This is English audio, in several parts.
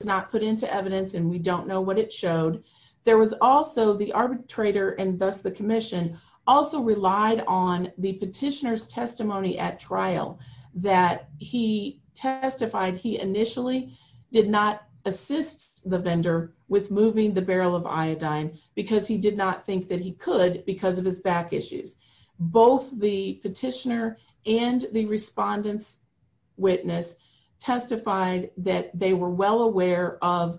was not put into evidence and we don't know what it showed. There was also the arbitrator, and thus the Commission, also relied on the petitioner's testimony at trial that he testified he initially did not assist the vendor with moving the barrel of iodine because he did not think that he could because of his back issues. Both the petitioner and the respondent's testified that they were well aware of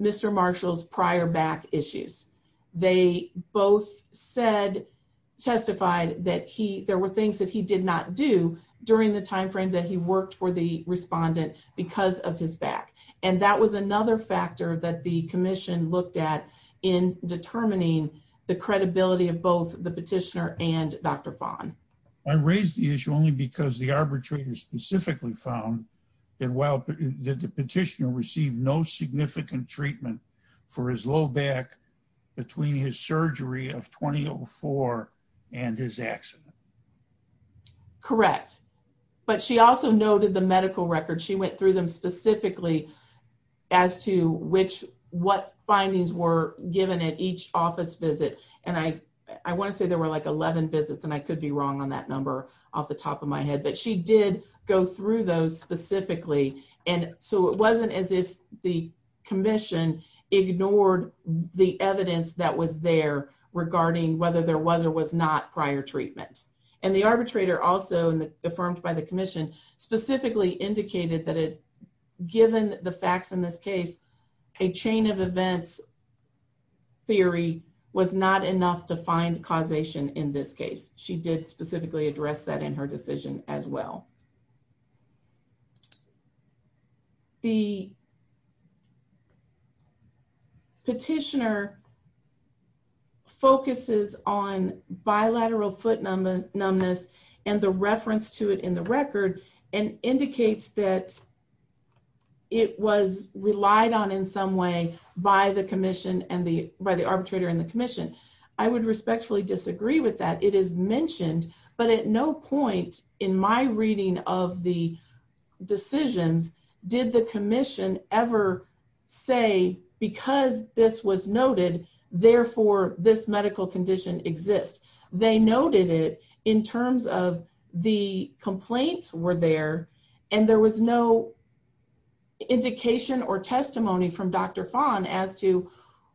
Mr. Marshall's prior back issues. They both said, testified that there were things that he did not do during the time frame that he worked for the respondent because of his back. And that was another factor that the Commission looked at in determining the credibility of both the petitioner and Dr. Fahn. I raised the issue only because the arbitrator specifically found that while the petitioner received no significant treatment for his low back between his surgery of 2004 and his accident. Correct. But she also noted the medical record. She went through them specifically as to which, what findings were given at each office visit. And I want to say there were like 11 visits, and I could be wrong on that number off the top of my head, but she did go through those specifically. And so it wasn't as if the Commission ignored the evidence that was there regarding whether there was or was not prior treatment. And the arbitrator also, affirmed by the Commission, specifically indicated that given the facts in this case, a chain of events theory was not enough to find causation in this case. She did specifically address that in her decision as well. The petitioner focuses on bilateral foot numbness and the reference to it in the record and indicates that it was relied on in some way by the Commission and by the arbitrator and the Commission. I would respectfully disagree with that. It is mentioned, but at no point in my reading of the this medical condition exists. They noted it in terms of the complaints were there and there was no indication or testimony from Dr. Fahn as to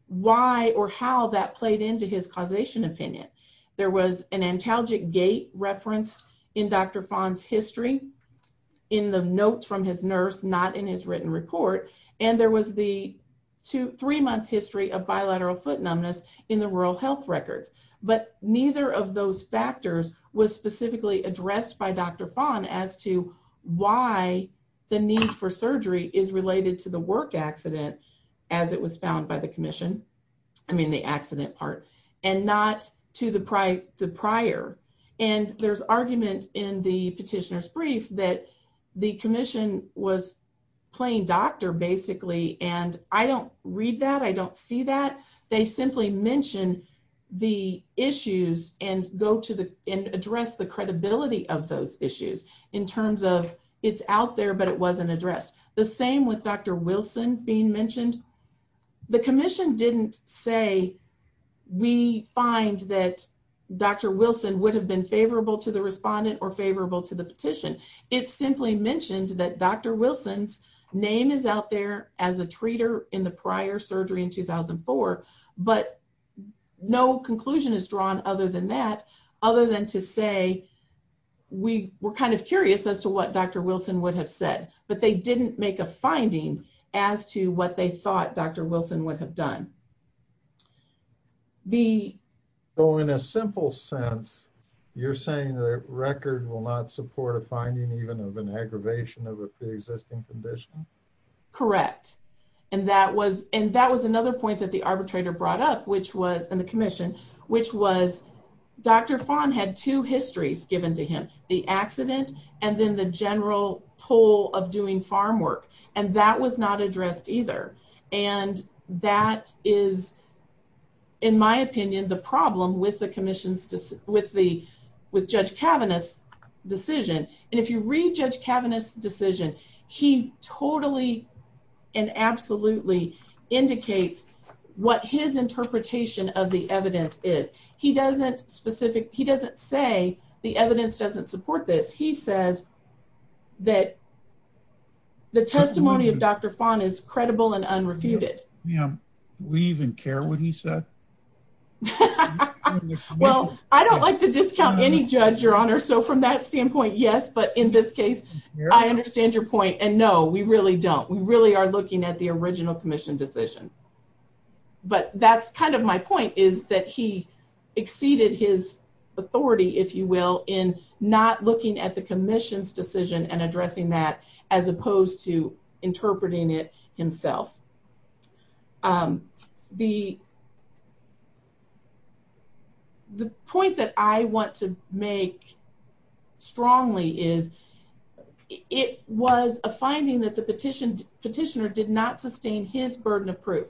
why or how that played into his causation opinion. There was an antalgic gait referenced in Dr. Fahn's history in the notes from his nurse, not in his written report. And there was the three-month history of bilateral foot numbness in the rural health records. But neither of those factors was specifically addressed by Dr. Fahn as to why the need for surgery is related to the work accident as it was found by the Commission. I mean the accident part and not to the prior. And there's argument in the petitioner's brief that the Commission was playing doctor basically. And I don't read that. I don't see that. They simply mention the issues and go to the and address the credibility of those issues in terms of it's out there, but it wasn't addressed. The same with Dr. Wilson being mentioned. The Commission didn't say we find that Dr. Wilson would have been favorable to the respondent or favorable to the petition. It simply mentioned that Dr. Wilson's name is out there as a treater in the prior surgery in 2004. But no conclusion is drawn other than that, other than to say we were kind of curious as to what Dr. Wilson would have said. But they didn't make a finding as to what they thought Dr. Wilson would have done. So in a simple sense, you're saying the record will not support a finding even of an aggravation of a pre-existing condition? Correct. And that was another point that the arbitrator brought up, which was in the Commission, which was Dr. Fahn had two histories given to him, the accident and then the general toll of doing farm work. And that was not addressed either. And that is, in my opinion, the problem with Judge Kavanagh's decision. And if you read Judge Kavanagh's decision, he totally and absolutely indicates what his interpretation of the evidence is. He doesn't say the evidence doesn't support this. He says that the testimony of Dr. Fahn is credible and unrefuted. We even care what he said? Well, I don't like to discount any judge, Your Honor. So from that standpoint, yes. But in this case, I understand your point. And no, we really don't. We really are looking at the original Commission decision. But that's kind of my point is that he exceeded his authority, if you will, in not looking at the Commission's decision and addressing that as opposed to interpreting it himself. The point that I want to make strongly is it was a finding that the petitioner did not sustain his burden of proof.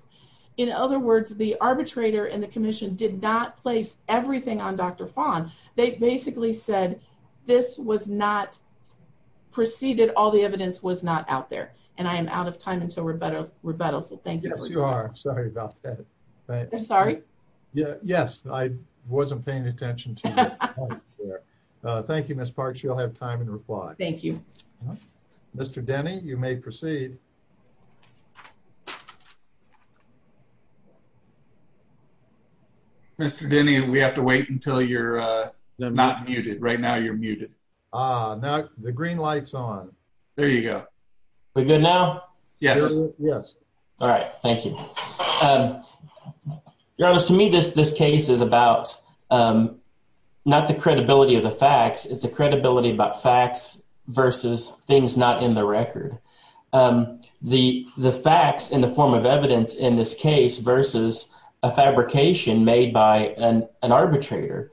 In other words, the arbitrator and the Commission did not place everything on Dr. Fahn. They basically said this was not preceded. All the evidence was not out there. And I am out of time until rebuttal. So thank you. Yes, you are. Sorry about that. Sorry. Yes, I wasn't paying attention to you. Thank you, Miss Parks. You'll have time and Thank you. Mr. Denny, you may proceed. Mr. Denny, we have to wait until you're not muted. Right now, you're muted. Ah, the green light's on. There you go. We're good now? Yes. Yes. All right. Thank you. Your Honor, to me, this case is about not the credibility of the facts. It's the credibility about facts versus things not in the record. The facts in the form of evidence in this case versus a fabrication made by an arbitrator.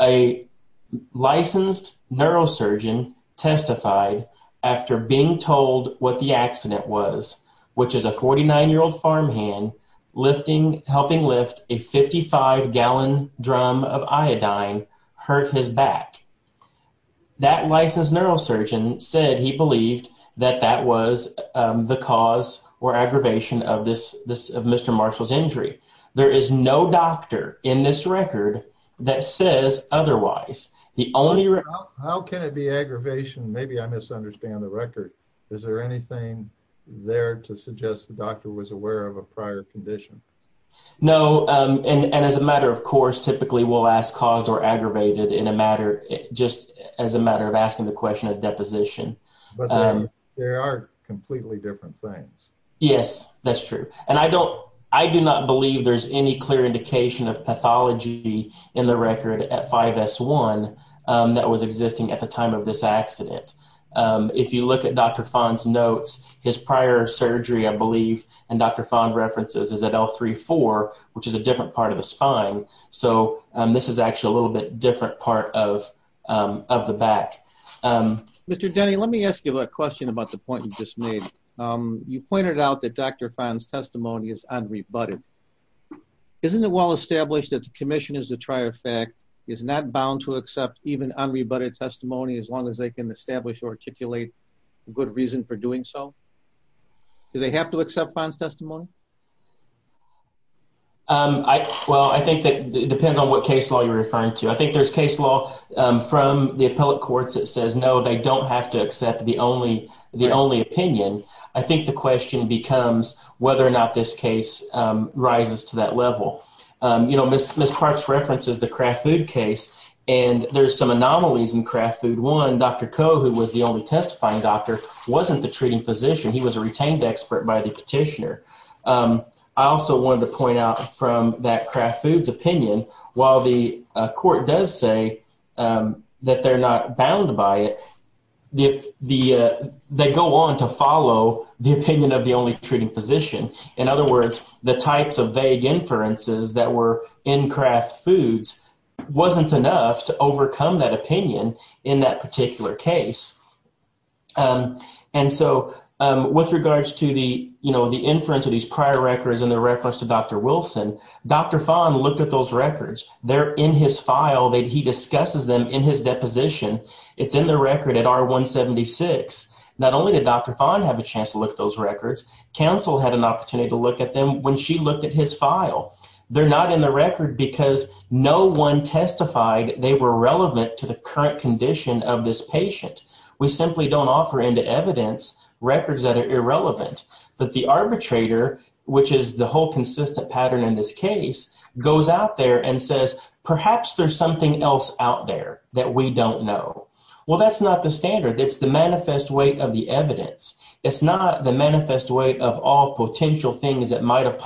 A licensed neurosurgeon testified after being told what the accident was, which is a 49-year-old farmhand helping lift a 55-gallon drum of iodine hurt his back. That licensed neurosurgeon said he believed that that was the cause or aggravation of Mr. Marshall's injury. There is no doctor in this record that says otherwise. How can it be aggravation? Maybe I misunderstand the record. Is there anything there to suggest the doctor was aware of a prior condition? No. As a matter of course, typically, we'll ask caused or aggravated just as a matter of asking the question of deposition. There are completely different things. Yes, that's true. I do not believe there's any clear indication of pathology in the record at 5S1 that was existing at the time of this accident. If you look at Dr. Fahn's notes, his prior surgery, I believe, and Dr. Fahn references is at L3-4, which is a different part of the spine. This is actually a little bit different part of the back. Mr. Denny, let me ask you a question about the point you just made. You pointed out that Dr. Fahn's testimony is unrebutted. Isn't it well established that the commission is a trier fact, is not bound to accept even unrebutted testimony as long as they can establish or articulate a good reason for doing so? Do they have to accept Fahn's testimony? Well, I think that depends on what case law you're referring to. I think there's case law from the appellate courts that says, no, they don't have to accept the only opinion. I think the question becomes whether or not this case rises to that level. Ms. Parks references the anomalies in Kraft Foods. One, Dr. Koh, who was the only testifying doctor, wasn't the treating physician. He was a retained expert by the petitioner. I also wanted to point out from that Kraft Foods opinion, while the court does say that they're not bound by it, they go on to follow the opinion of the only treating physician. In other words, the that particular case. With regards to the inference of these prior records and the reference to Dr. Wilson, Dr. Fahn looked at those records. They're in his file. He discusses them in his deposition. It's in the record at R176. Not only did Dr. Fahn have a chance to look at those records, counsel had an opportunity to look at them when she looked at his file. They're not in the record because no one testified they were relevant to the current condition of this patient. We simply don't offer into evidence records that are irrelevant. But the arbitrator, which is the whole consistent pattern in this case, goes out there and says, perhaps there's something else out there that we don't know. Well, that's not the standard. It's the manifest weight of the evidence. It's not the manifest weight of all potential things that might have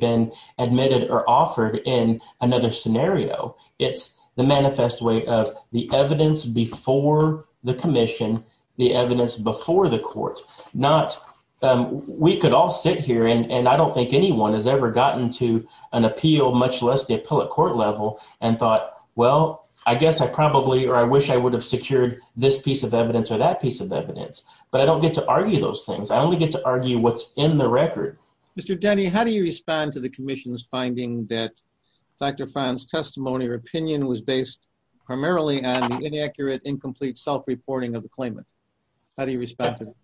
been admitted or offered in another scenario. It's the manifest weight of the evidence before the commission, the evidence before the court. We could all sit here, and I don't think anyone has ever gotten to an appeal, much less the appellate court level, and thought, well, I guess I probably or I wish I would have secured this piece of evidence or that piece of evidence. But I don't get to argue those things. I only get to argue what's in the record. Mr. Denny, how do you respond to the commission's finding that Dr. Fon's testimony or opinion was based primarily on the inaccurate, incomplete self-reporting of the claimant? How do you respond to that?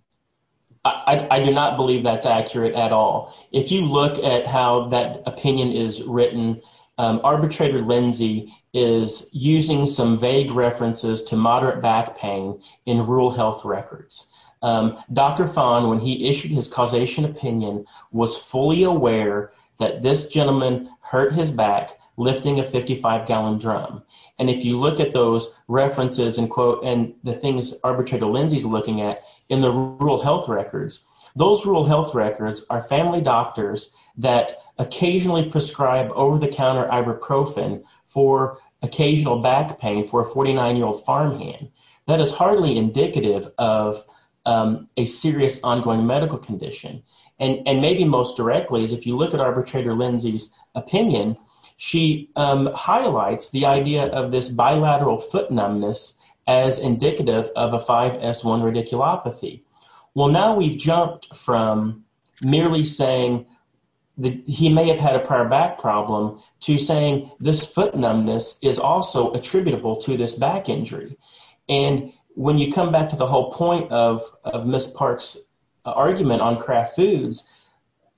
I do not believe that's accurate at all. If you look at how that opinion is written, arbitrator Lindsey is using some vague references to moderate back paying in rural health records. Dr. Fon, when he issued his causation opinion, was fully aware that this gentleman hurt his back lifting a 55-gallon drum. And if you look at those references and the things arbitrator Lindsey's looking at in the rural health records, those rural health records are family doctors that occasionally prescribe over-the-counter ibuprofen for occasional back pain for a 49-year-old farmhand. That is hardly indicative of a serious ongoing medical condition. And maybe most directly is if you look at arbitrator Lindsey's opinion, she highlights the idea of this bilateral foot numbness as indicative of a 5S1 radiculopathy. Well, now we've jumped from merely saying he may have had a prior back problem to saying this foot numbness is also attributable to this back injury. And when you come back to the whole point of Ms. Park's argument on Kraft Foods,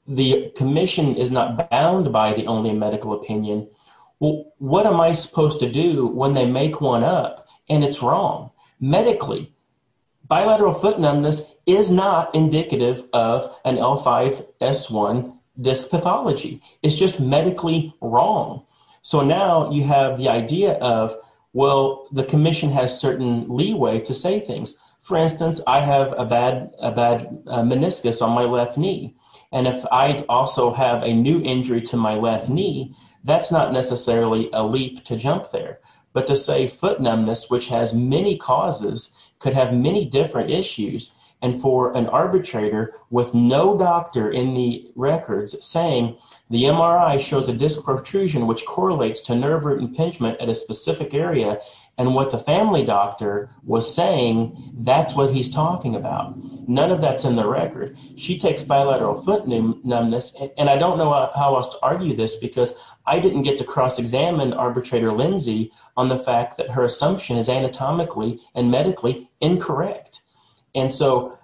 the commission is not bound by the only medical opinion. Well, what am I supposed to do when they make one up and it's wrong? Medically, bilateral foot numbness is not indicative of an L5S1 disc pathology. It's just medically wrong. So now you have the idea of, well, the commission has certain leeway to say things. For instance, I have a bad meniscus on my left knee. And if I also have a new injury to my left knee, that's not necessarily a leap to jump there. But to say foot numbness, which has many causes, could have many different issues. And for an arbitrator with no doctor in the records saying the MRI shows a disc protrusion which correlates to nerve root impingement at a specific area and what the family doctor was saying, that's what he's talking about. None of that's in the record. She takes bilateral foot numbness. And I don't know how else to argue this because I didn't get to cross-examine arbitrator Lindsay on the fact that her assumption is anatomically and medically incorrect. And so...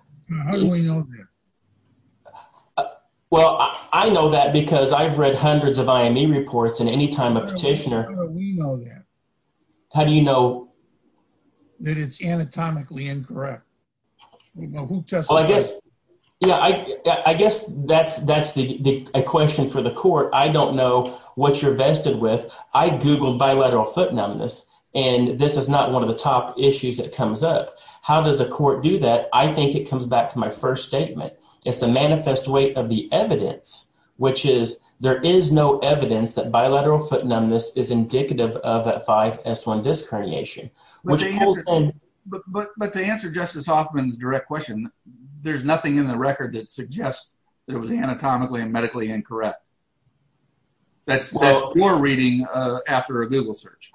How do we know that? Well, I know that because I've read hundreds of IME reports and any time a petitioner... How do we know that? How do you know? That it's anatomically incorrect. We know who tested... Well, I guess that's a question for the court. I don't know what you're vested with. I googled bilateral foot numbness and this is not one of the top issues that comes up. How does a court do that? I think it comes back to my first statement. It's the manifest weight of the evidence, which is there is no evidence that bilateral foot numbness is indicative of a 5S1 disc herniation. But to answer Justice Hoffman's direct question, there's nothing in the record that suggests that it was anatomically and medically incorrect. That's your reading after a Google search.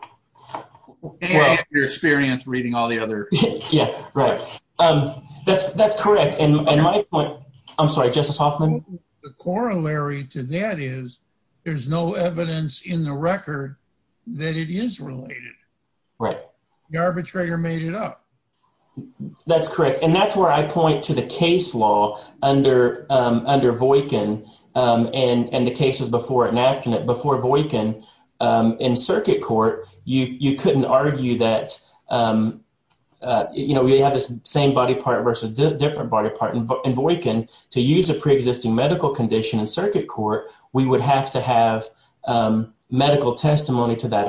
And your experience reading all the other... Yeah, right. That's correct. And my point... I'm sorry, Justice Hoffman? The corollary to that is there's no evidence in the record that it is related. Right. The arbitrator made it up. That's correct. And that's where I point to the case law under Voightkin and the cases before it and after it. Before Voightkin in circuit court, you couldn't argue that we have this same body part versus different body part. In Voightkin, to use a preexisting medical condition in circuit court, we would have to have medical testimony to that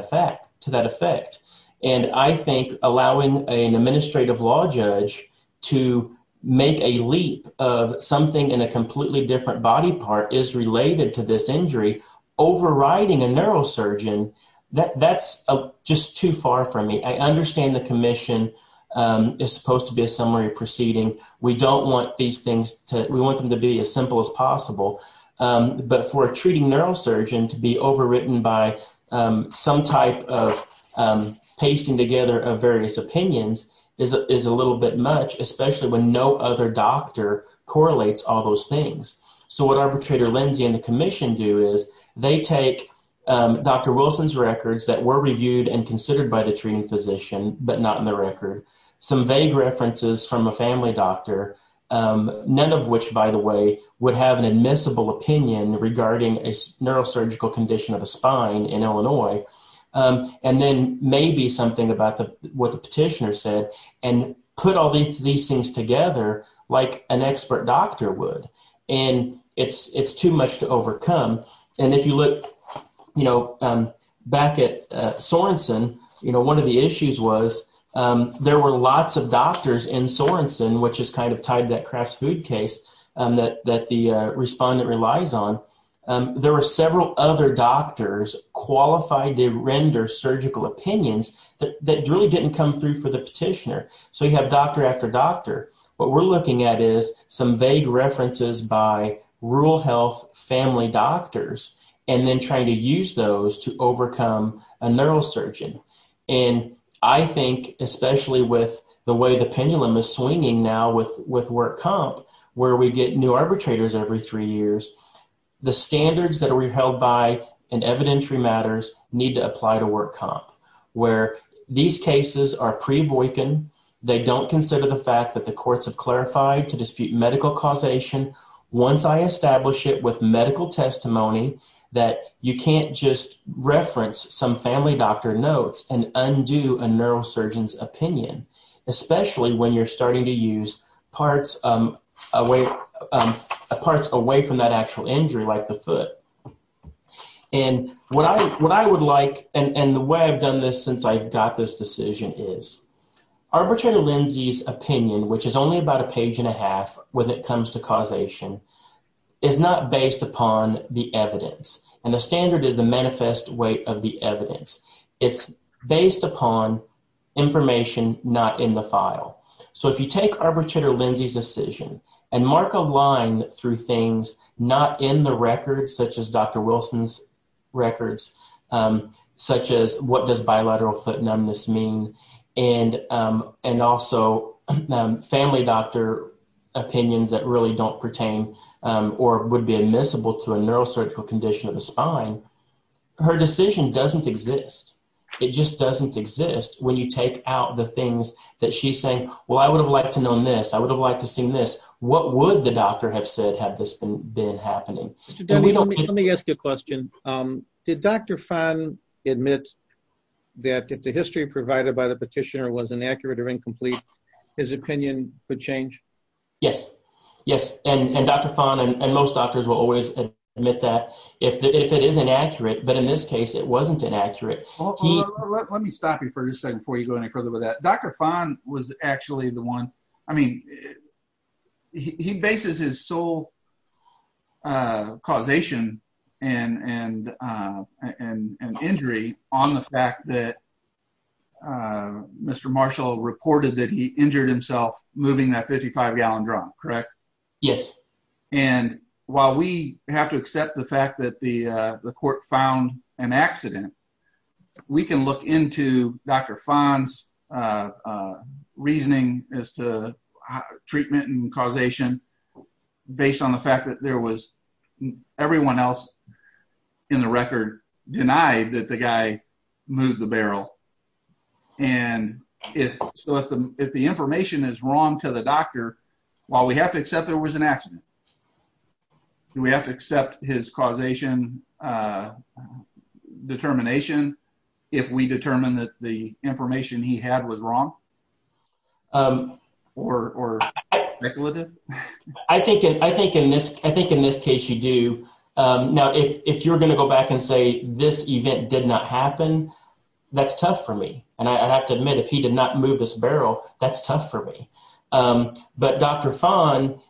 effect. And I think allowing an administrative law judge to make a leap of something in a completely different body part is related to this injury. Overriding a neurosurgeon, that's just too far from me. I understand the commission is supposed to be a summary proceeding. We don't want these things to... We want them to be as simple as possible. But for a treating neurosurgeon to be overwritten by some type of pasting together of various opinions is a little bit much, especially when no other doctor correlates all those things. So what arbitrator Lindsey and the commission do is they take Dr. Wilson's records that were reviewed and considered by the treating physician, but not in the record. Some vague references from a family doctor, none of which, by the way, would have an admissible opinion regarding a neurosurgical condition of a spine in Illinois. And then maybe something about what the petitioner said and put all these things together like an expert doctor would. And it's too much to overcome. And if you look back at Sorenson, one of the issues was there were lots of doctors in Sorenson, which is kind of tied to that crash food case that the respondent relies on. There were several other doctors qualified to render surgical opinions that really didn't come through for the petitioner. So you have doctor after doctor. What we're looking at is some vague references by rural health family doctors and then trying to use those to overcome a neurosurgeon. And I think especially with the way the pendulum is swinging now with work comp, where we get new arbitrators every three years, the standards that are held by in evidentiary matters need to apply to work comp, where these cases are pre-Voykin. They don't consider the fact that the courts have clarified to dispute medical causation. Once I establish it with medical testimony that you can't just reference some family doctor notes and undo a neurosurgeon's opinion, especially when you're starting to use parts away from that actual injury like the foot. And what I would like, and the way I've done this since I've got this decision is, Arbitrator Lindsey's opinion, which is only about a page and a half when it comes to causation, is not based upon the evidence. And the standard is the manifest weight of the evidence. It's based upon information not in the file. So if you take Arbitrator Lindsey's decision and mark a line through things not in the record, such as Dr. Wilson's records, such as what does don't pertain or would be admissible to a neurosurgical condition of the spine, her decision doesn't exist. It just doesn't exist when you take out the things that she's saying, well, I would have liked to known this. I would have liked to seen this. What would the doctor have said had this been happening? Let me ask you a question. Did Dr. Fahn admit that if the history provided by the petitioner was inaccurate or incomplete, his opinion would change? Yes. Yes. And Dr. Fahn and most doctors will always admit that if it is inaccurate, but in this case, it wasn't inaccurate. Let me stop you for a second before you go any further with that. Dr. Fahn was actually the one, I mean, he bases his sole causation and injury on the fact that Mr. Marshall reported that he injured himself moving that 55 gallon drum, correct? Yes. And while we have to accept the fact that the court found an accident, we can look into Dr. Fahn's reasoning as to treatment and causation based on the fact that there was everyone else in the record denied that the guy moved the barrel. And if the information is wrong to the doctor, while we have to accept there was an accident, do we have to accept his causation determination if we determine that the information he had was wrong or speculative? I think in this case you do. Now, if you're going to go back and say this event did not happen, that's tough for me. And I have to admit, if he did not move this barrel, that's tough for me. But Dr. Fahn,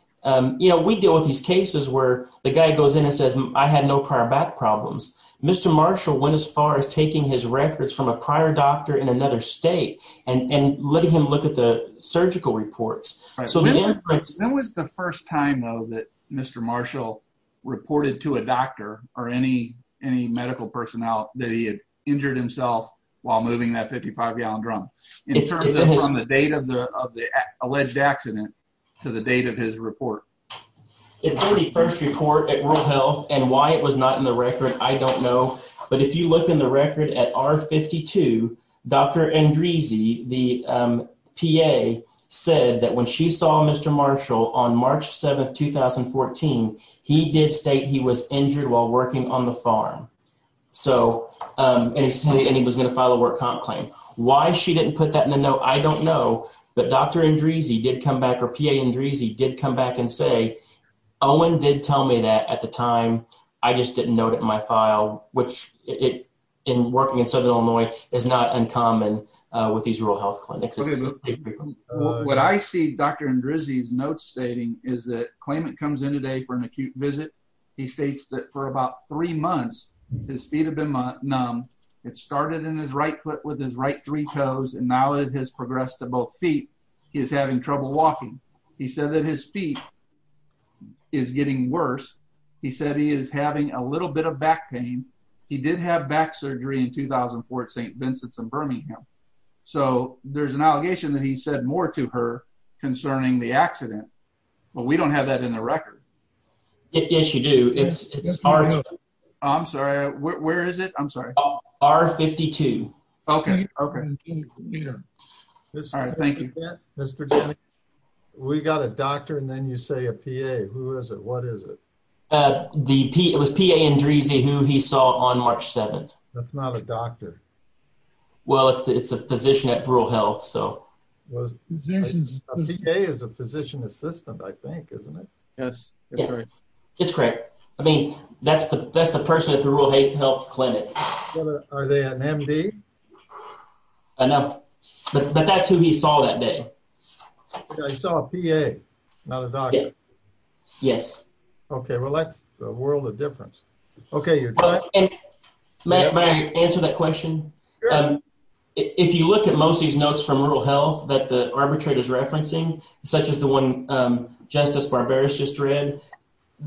we deal with these cases where the guy goes in and says, I had no prior back problems. Mr. Marshall went as far as taking his records from a prior doctor in another state and letting him look at the surgical reports. When was the first time, though, that Mr. Marshall reported to a doctor or any medical personnel that he had injured himself while moving that 55 gallon drum, in terms of from the date of the alleged accident to the date of his report? It's the 31st report at World Health, and why it was not in the record, I don't know. But if you look in the record at R52, Dr. Andreese, the PA, said that when she saw Mr. Marshall on March 7th, 2014, he did state he was injured while working on the farm. And he was going to file a work comp claim. Why she didn't put that in the note, I don't know. But Dr. Andreese did come back, or PA Andreese did come back and say, Owen did tell me that at the time. I just didn't note it in my file, which in working in Southern Illinois is not uncommon with these rural health clinics. What I see Dr. Andreese's notes stating is that claimant comes in today for an acute visit. He states that for about three months, his feet have been numb. It started in his right foot with his right three toes, and now it has progressed to both feet. He is having trouble walking. He said that his feet is getting worse. He said he is having a little bit of back pain. He did have back surgery in 2004 at St. Vincent's in Birmingham. So there's an allegation that he said more to her concerning the accident, but we don't have that in the record. Yes, you do. It's R. I'm sorry, where is it? R-52. Okay, okay. All right, thank you. Mr. Jennings, we got a doctor and then you say a PA. Who is it? What is it? It was PA Andreese who he saw on March 7th. That's not a doctor. Well, it's a physician at Rural Health, so. A PA is a physician assistant, I think, isn't it? Yes, that's right. It's correct. I mean, that's the person at the Rural Health Clinic. Are they an MD? I don't know, but that's who he saw that day. He saw a PA, not a doctor. Yes. Okay, well that's a world of difference. Okay, you're done. May I answer that question? If you look at most of these notes from Rural Health that the arbitrator is referencing, such as the one Justice Barberis just read,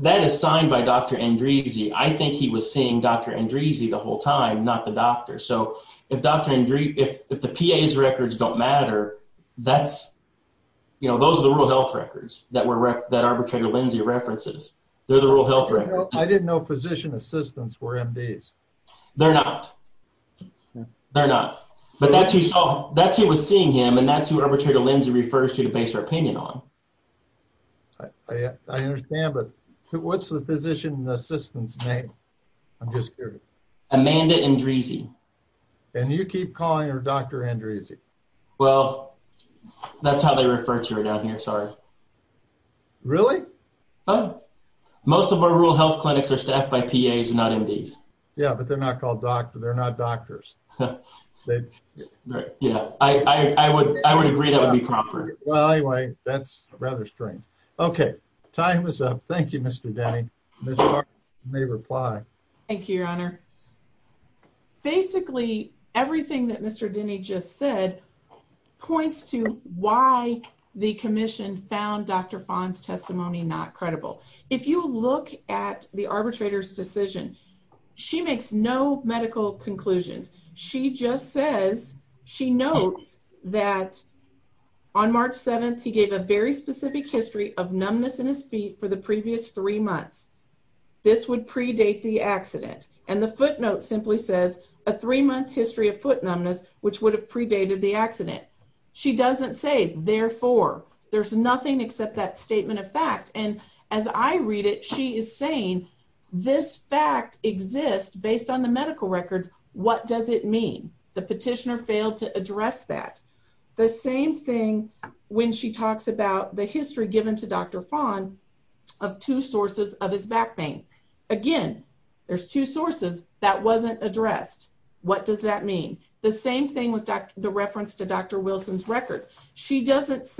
that is signed by Dr. Andreese. I think he was seeing Dr. Andreese the whole time, not the doctor. So if Dr. Andreese, if the PA's records don't matter, that's, you know, those are the Rural Health records that arbitrator Lindsay references. They're the Rural Health records. I didn't know physician assistants were MDs. They're not. They're not. But that's who saw, that's who was seeing him, that's who arbitrator Lindsay refers to to base her opinion on. I understand, but what's the physician assistant's name? I'm just curious. Amanda Andreese. And you keep calling her Dr. Andreese. Well, that's how they refer to her down here. Sorry. Really? Most of our Rural Health clinics are staffed by PAs, not MDs. Yeah, but they're not called doctor. Yeah, I would agree that would be proper. Well, anyway, that's rather strange. Okay, time is up. Thank you, Mr. Denny. Ms. Barberis, you may reply. Thank you, Your Honor. Basically, everything that Mr. Denny just said points to why the commission found Dr. Fahn's testimony not credible. If you look at the footnote, she just says, she notes that on March 7th, he gave a very specific history of numbness in his feet for the previous three months. This would predate the accident. And the footnote simply says a three-month history of foot numbness, which would have predated the accident. She doesn't say, therefore, there's nothing except that statement of fact. And as I read it, she is saying this fact exists based on the medical records. What does it mean? The petitioner failed to address that. The same thing when she talks about the history given to Dr. Fahn of two sources of his back pain. Again, there's two sources that wasn't addressed. What does that mean? The same thing with the reference to Dr. Wilson's records. She doesn't his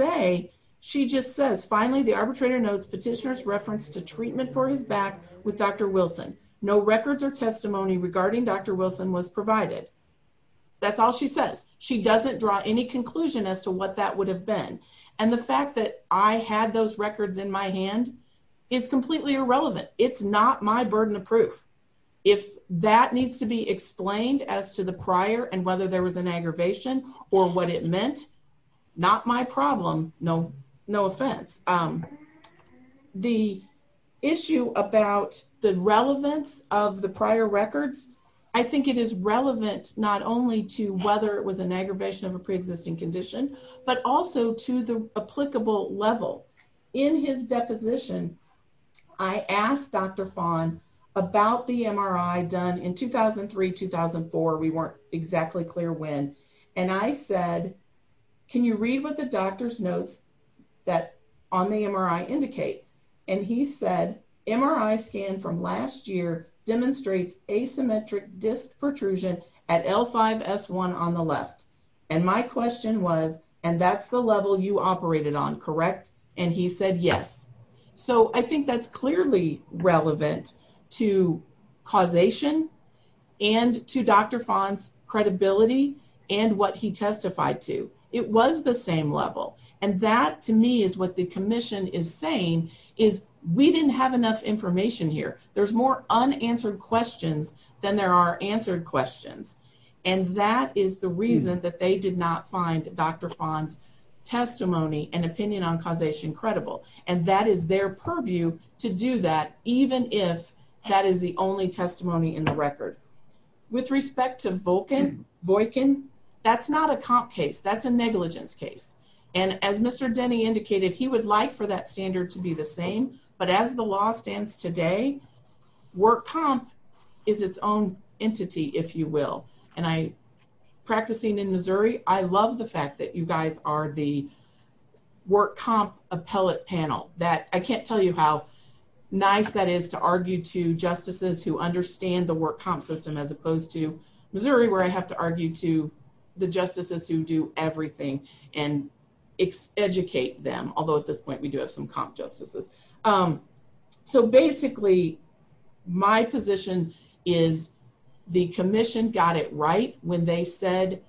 back with Dr. Wilson. No records or testimony regarding Dr. Wilson was provided. That's all she says. She doesn't draw any conclusion as to what that would have been. And the fact that I had those records in my hand is completely irrelevant. It's not my burden of proof. If that needs to be explained as to the prior and whether there was an aggravation or what it meant, not my problem. No offense. The issue about the relevance of the prior records, I think it is relevant not only to whether it was an aggravation of a preexisting condition, but also to the applicable level. In his deposition, I asked Dr. Fahn about the MRI done in 2003, 2004. We weren't exactly clear when. And I said, can you read what the doctor's notes that on the MRI indicate? And he said, MRI scan from last year demonstrates asymmetric disc protrusion at L5 S1 on the left. And my question was, and that's the level you operated on, and he said, yes. So I think that's clearly relevant to causation and to Dr. Fahn's credibility and what he testified to. It was the same level. And that to me is what the commission is saying is we didn't have enough information here. There's more unanswered questions than there are answered questions. And that is the reason that they did not find Dr. Fahn's testimony and causation credible. And that is their purview to do that, even if that is the only testimony in the record. With respect to Volkin, that's not a comp case. That's a negligence case. And as Mr. Denny indicated, he would like for that standard to be the same, but as the law stands today, work comp is its own entity, if you will. And I, I love the fact that you guys are the work comp appellate panel that I can't tell you how nice that is to argue to justices who understand the work comp system as opposed to Missouri, where I have to argue to the justices who do everything and educate them. Although at this point we do have some comp justices. So basically my position is the commission got it right when they said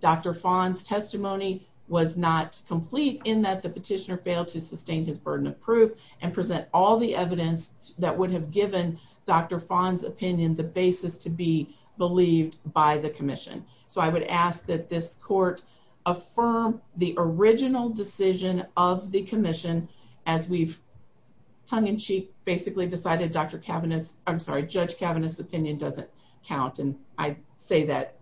Dr. Fahn's testimony was not complete in that the petitioner failed to sustain his burden of proof and present all the evidence that would have given Dr. Fahn's opinion the basis to be believed by the commission. So I would ask that this court affirm the original decision of the commission as we've tongue in cheek, basically decided Dr. Say that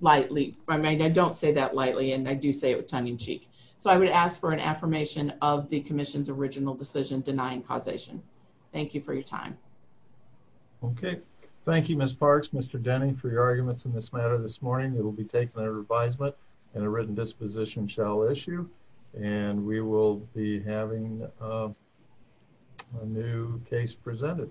lightly. I mean, I don't say that lightly, and I do say it with tongue in cheek. So I would ask for an affirmation of the commission's original decision denying causation. Thank you for your time. Okay. Thank you, Miss Parks. Mr. Denny, for your arguments in this matter this morning, it will be taken a revisement and a written disposition shall issue and we will be having a new case presented.